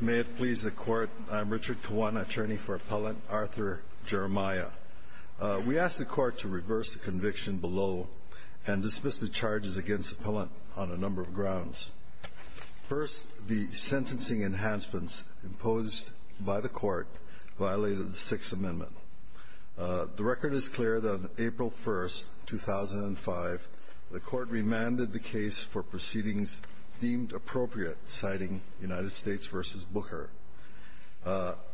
May it please the Court, I am Richard Kiwan, attorney for Appellant Arthur Jeremiah. We ask the Court to reverse the conviction below and dismiss the charges against the Appellant on a number of grounds. First, the sentencing enhancements imposed by the Court violated the Sixth Amendment. The record is clear that on April 1, 2005, the Court remanded the case for proceedings deemed appropriate, citing U.S. v. Booker.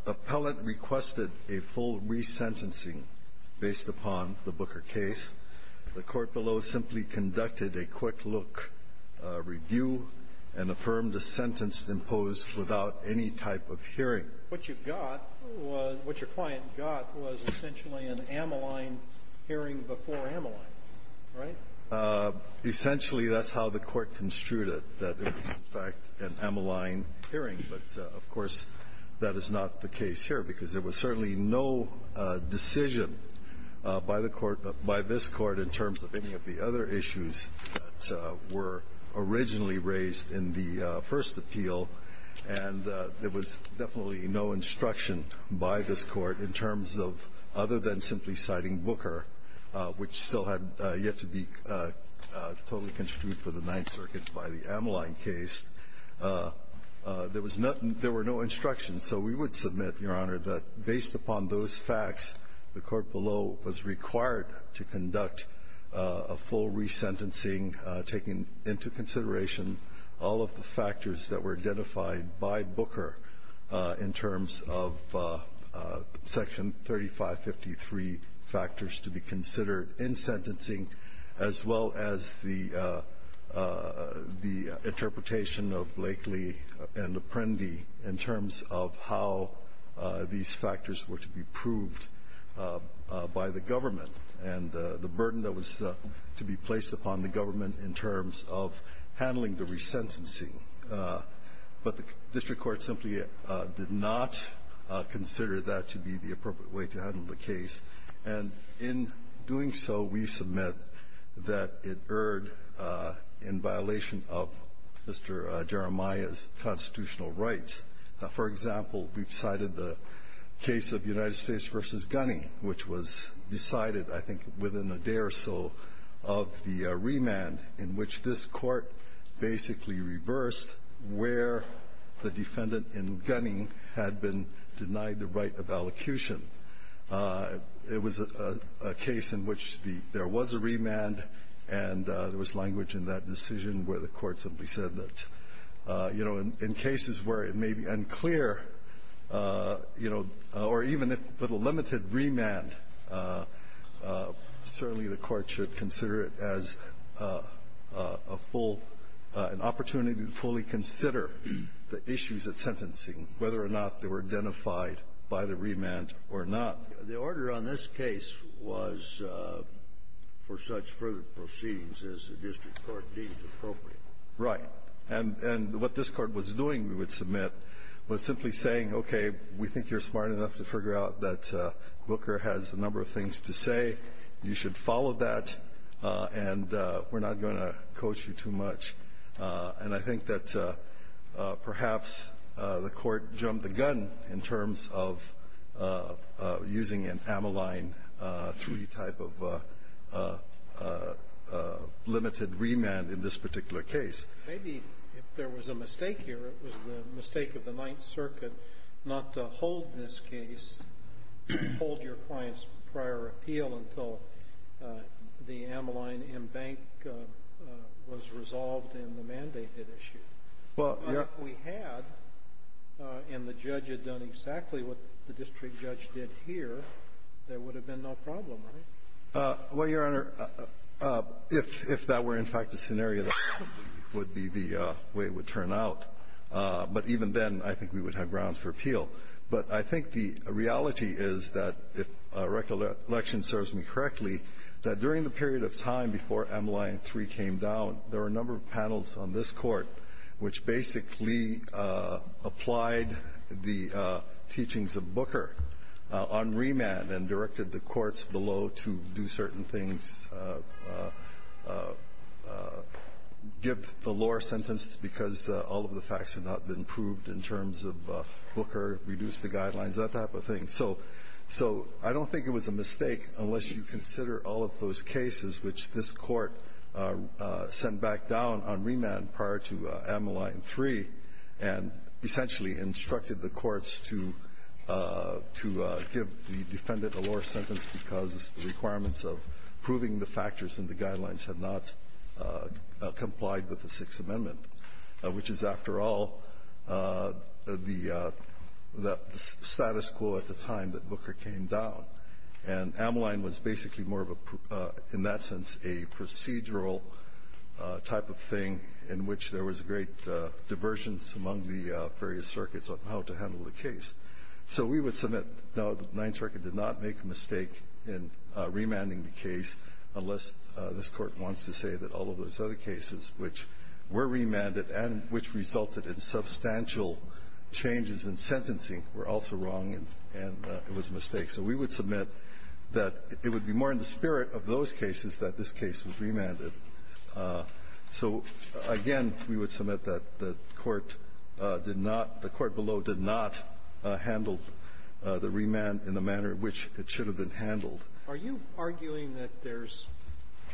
Appellant requested a full resentencing based upon the Booker case. The Court below simply conducted a quick-look review and affirmed a sentence imposed without any type of hearing. What you got was what your client got was essentially an amyline hearing before amyline. Right? Essentially, that's how the Court construed it, that it was, in fact, an amyline hearing, but, of course, that is not the case here, because there was certainly no decision by the Court, by this Court, in terms of any of the other issues that were originally raised in the first appeal, and there was definitely no instruction by this Court in terms of, other than simply citing Booker, which still had yet to be totally construed for the Ninth Circuit by the amyline case. There was nothing – there were no instructions. So we would submit, Your Honor, that based upon those facts, the Court below was required to conduct a full resentencing, taking into consideration all of the factors that were identified by Booker in terms of Section 3553 factors to be considered in sentencing, as well as the interpretation of Blakely and Apprendi in terms of how these factors were to be proved by the government and the burden that was to be placed upon the government in terms of handling the resentencing. But the district court simply did not consider that to be the appropriate way to handle the case. And in doing so, we submit that it erred in violation of Mr. Jeremiah's constitutional rights. Now, for example, we've cited the case of United States v. Gunning, which was decided, I think, within a day or so of the remand in which this Court basically reversed where the defendant in Gunning had been denied the right of allocution. It was a case in which the – there was a remand, and there was language in that decision where the Court simply said that, you know, in cases where it may be unclear, you know, or even if – with a limited remand, certainly the Court should consider it as a full – an opportunity to fully consider the issues at sentencing, whether or not they were identified by the remand or not. The order on this case was for such further proceedings as the district court deemed appropriate. Right. And what this Court was doing, we would submit, was simply saying, okay, we think you're smart enough to figure out that Booker has a number of things to say. You should follow that, and we're not going to coach you too much. And I think that perhaps the Court jumped the gun in terms of using an Ameline III type of limited remand in this particular case. Maybe if there was a mistake here, it was the mistake of the Ninth Circuit not to hold this case, hold your client's prior appeal until the Ameline M-Bank was resolved in the mandated issue. Well, your Honor We had, and the judge had done exactly what the district judge did here, there would have been no problem, right? Well, your Honor, if that were, in fact, the scenario, that would be the way it would And I think the reality is that, if recollection serves me correctly, that during the period of time before Ameline III came down, there were a number of panels on this Court which basically applied the teachings of Booker on remand and directed the courts below to do certain things, give the lower sentence because all of the facts had not been proved in terms of Booker, reduce the guidelines, that type of thing. So I don't think it was a mistake, unless you consider all of those cases which this Court sent back down on remand prior to Ameline III and essentially instructed the courts to give the defendant a lower sentence because the requirements of proving the factors in the guidelines had not complied with the Sixth Amendment, which is, after all, the status quo at the time that Booker came down. And Ameline was basically more of a, in that sense, a procedural type of thing in which there was great diversions among the various circuits on how to handle the case. So we would submit, no, the Ninth Circuit did not make a mistake in remanding the case, unless this Court wants to say that all of those other cases which were remanded and which resulted in substantial changes in sentencing were also wrong and it was a mistake. So we would submit that it would be more in the spirit of those cases that this case was remanded. So, again, we would submit that the Court did not, the Court below did not handle the remand in the manner in which it should have been handled. Are you arguing that there's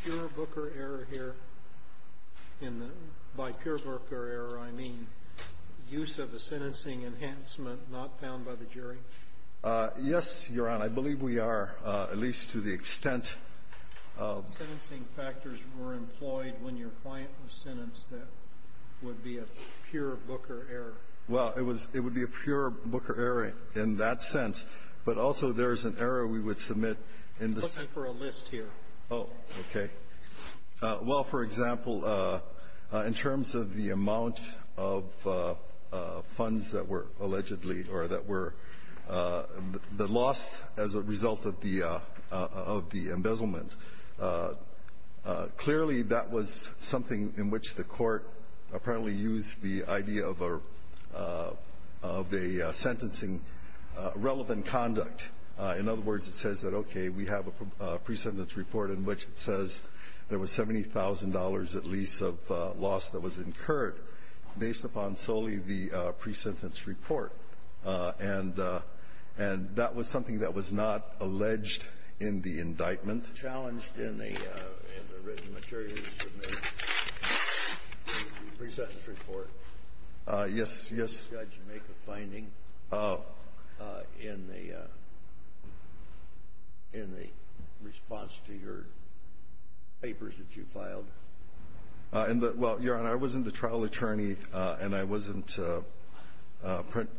pure Booker error here in the by pure Booker error, I mean, use of the sentencing enhancement not found by the jury? Yes, Your Honor. I believe we are, at least to the extent of the sentencing factors were employed when your client was sentenced, that would be a pure Booker error. Well, it was, it would be a pure Booker error in that sense. But also there's an error we would submit in the sense of the amount of funds that were allegedly or that were the loss as a result of the embezzlement. Clearly, that was something in which the Court apparently used the idea of a, of a sentencing conduct. In other words, it says that, okay, we have a pre-sentence report in which it says there was $70,000 at least of loss that was incurred based upon solely the pre-sentence report. And that was something that was not alleged in the indictment. Challenged in the written material you submitted, the pre-sentence report. Yes, yes. Did the judge make a finding in the, in the response to your papers that you filed? Well, Your Honor, I wasn't the trial attorney, and I wasn't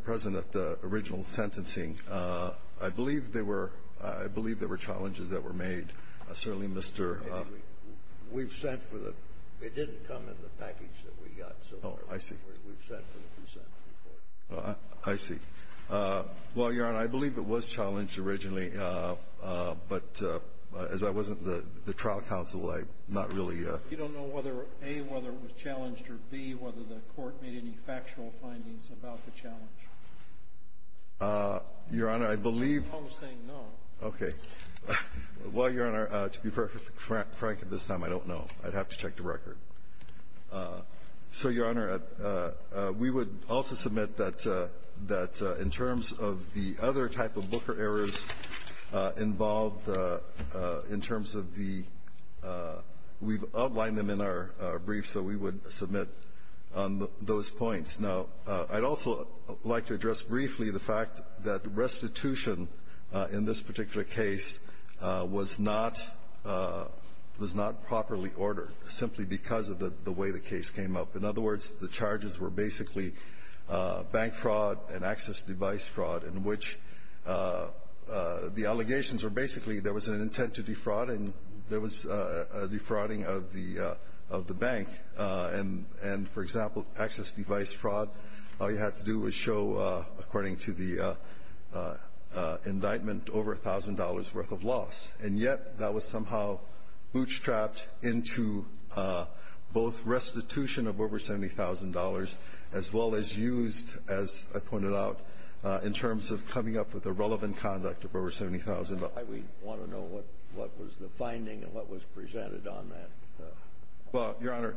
present at the original sentencing. I believe there were, I believe there were challenges that were made. Certainly, Mr. We've sent for the, it didn't come in the package that we got. Oh, I see. Well, Your Honor, I believe it was challenged originally, but as I wasn't the, the trial counsel, I'm not really a You don't know whether, A, whether it was challenged or, B, whether the Court made any factual findings about the challenge? Your Honor, I believe I'm saying no. Okay. Well, Your Honor, to be frank at this time, I don't know. I'd have to check the record. So, Your Honor, we would also submit that, that in terms of the other type of Booker errors involved in terms of the, we've outlined them in our brief, so we would submit on those points. Now, I'd also like to address briefly the fact that restitution in this particular case was not, was not properly ordered, simply because of the way the case came up. In other words, the charges were basically bank fraud and access device fraud in which the allegations were basically there was an intent to defraud and there was a defrauding of the, of the bank. And, and for example, access device fraud, all you had to do was show, according to the indictment, over $1,000 worth of loss. And yet, that was somehow bootstrapped into both restitution of over $70,000, as well as used, as I pointed out, in terms of coming up with a relevant conduct of over $70,000. I would want to know what, what was the finding and what was presented on that. Well, Your Honor,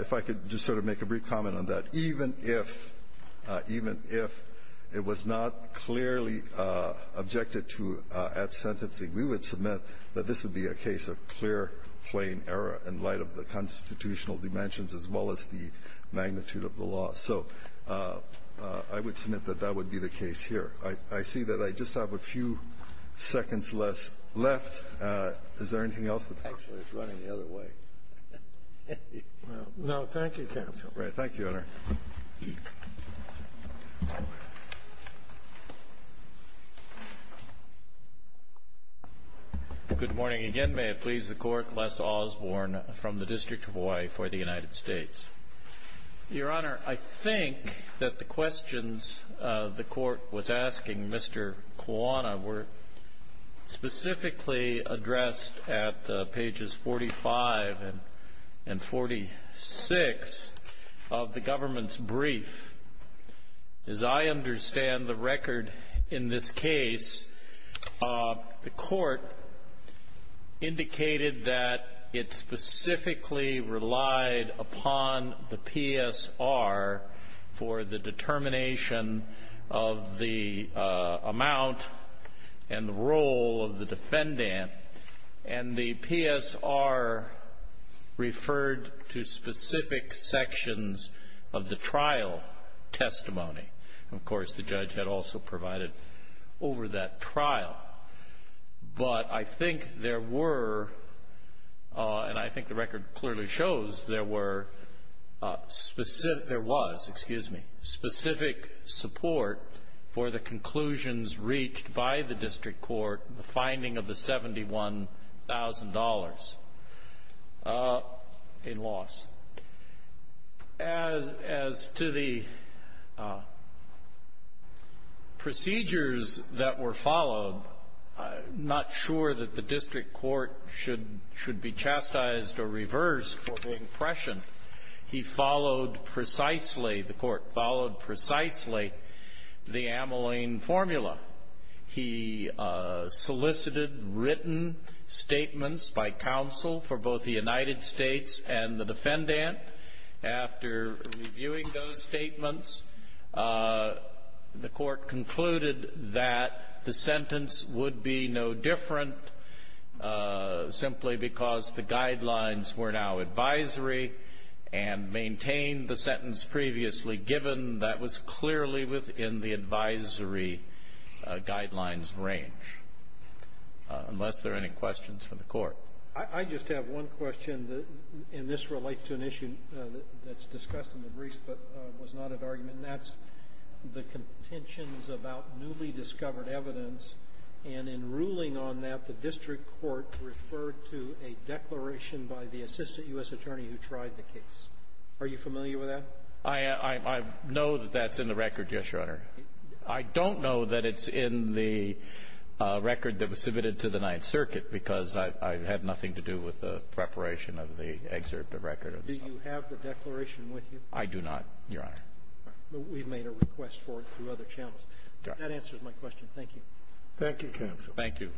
if I could just sort of make a brief comment on that. Even if, even if it was not clearly objected to at sentencing, we would submit that this would be a case of clear, plain error in light of the constitutional dimensions, as well as the magnitude of the law. So I would submit that that would be the case here. I see that I just have a few seconds left. Is there anything else? Actually, it's running the other way. Well, no. Thank you, counsel. Right. Thank you, Your Honor. Good morning again. May it please the Court. Les Osborne from the District of Hawaii for the United States. Your Honor, I think that the questions the Court was asking Mr. Kuana were specifically addressed at pages 45 and 46 of the government's brief. As I understand the record in this case, the Court indicated that it specifically relied upon the PSR for the determination of the amount and the role of the defendant. And the PSR referred to specific sections of the trial testimony. Of course, the judge had also provided over that trial. But I think there were, and I think the record clearly shows, there were specific, there was, excuse me, specific support for the conclusions reached by the district court, the finding of the $71,000 in loss. As to the procedures that were followed, I'm not sure that the district court should be chastised or reversed for the impression. He followed precisely, the Court followed precisely, the Ameline formula. He solicited written statements by counsel for both the United States and the defendant. After reviewing those statements, the Court concluded that the sentence would be no different simply because the guidelines were now advisory and maintained the sentence previously given. That was clearly within the advisory guidelines range, unless there are any questions from the Court. I just have one question, and this relates to an issue that's discussed in the briefs that was not an argument, and that's the contentions about newly discovered evidence. And in ruling on that, the district court referred to a declaration by the assistant U.S. attorney who tried the case. Are you familiar with that? I know that that's in the record, yes, Your Honor. I don't know that it's in the record that was submitted to the Ninth Circuit because I had nothing to do with the preparation of the excerpt of record. Do you have the declaration with you? I do not, Your Honor. All right. Well, we've made a request for it through other channels. That answers my question. Thank you. Thank you, counsel. Thank you.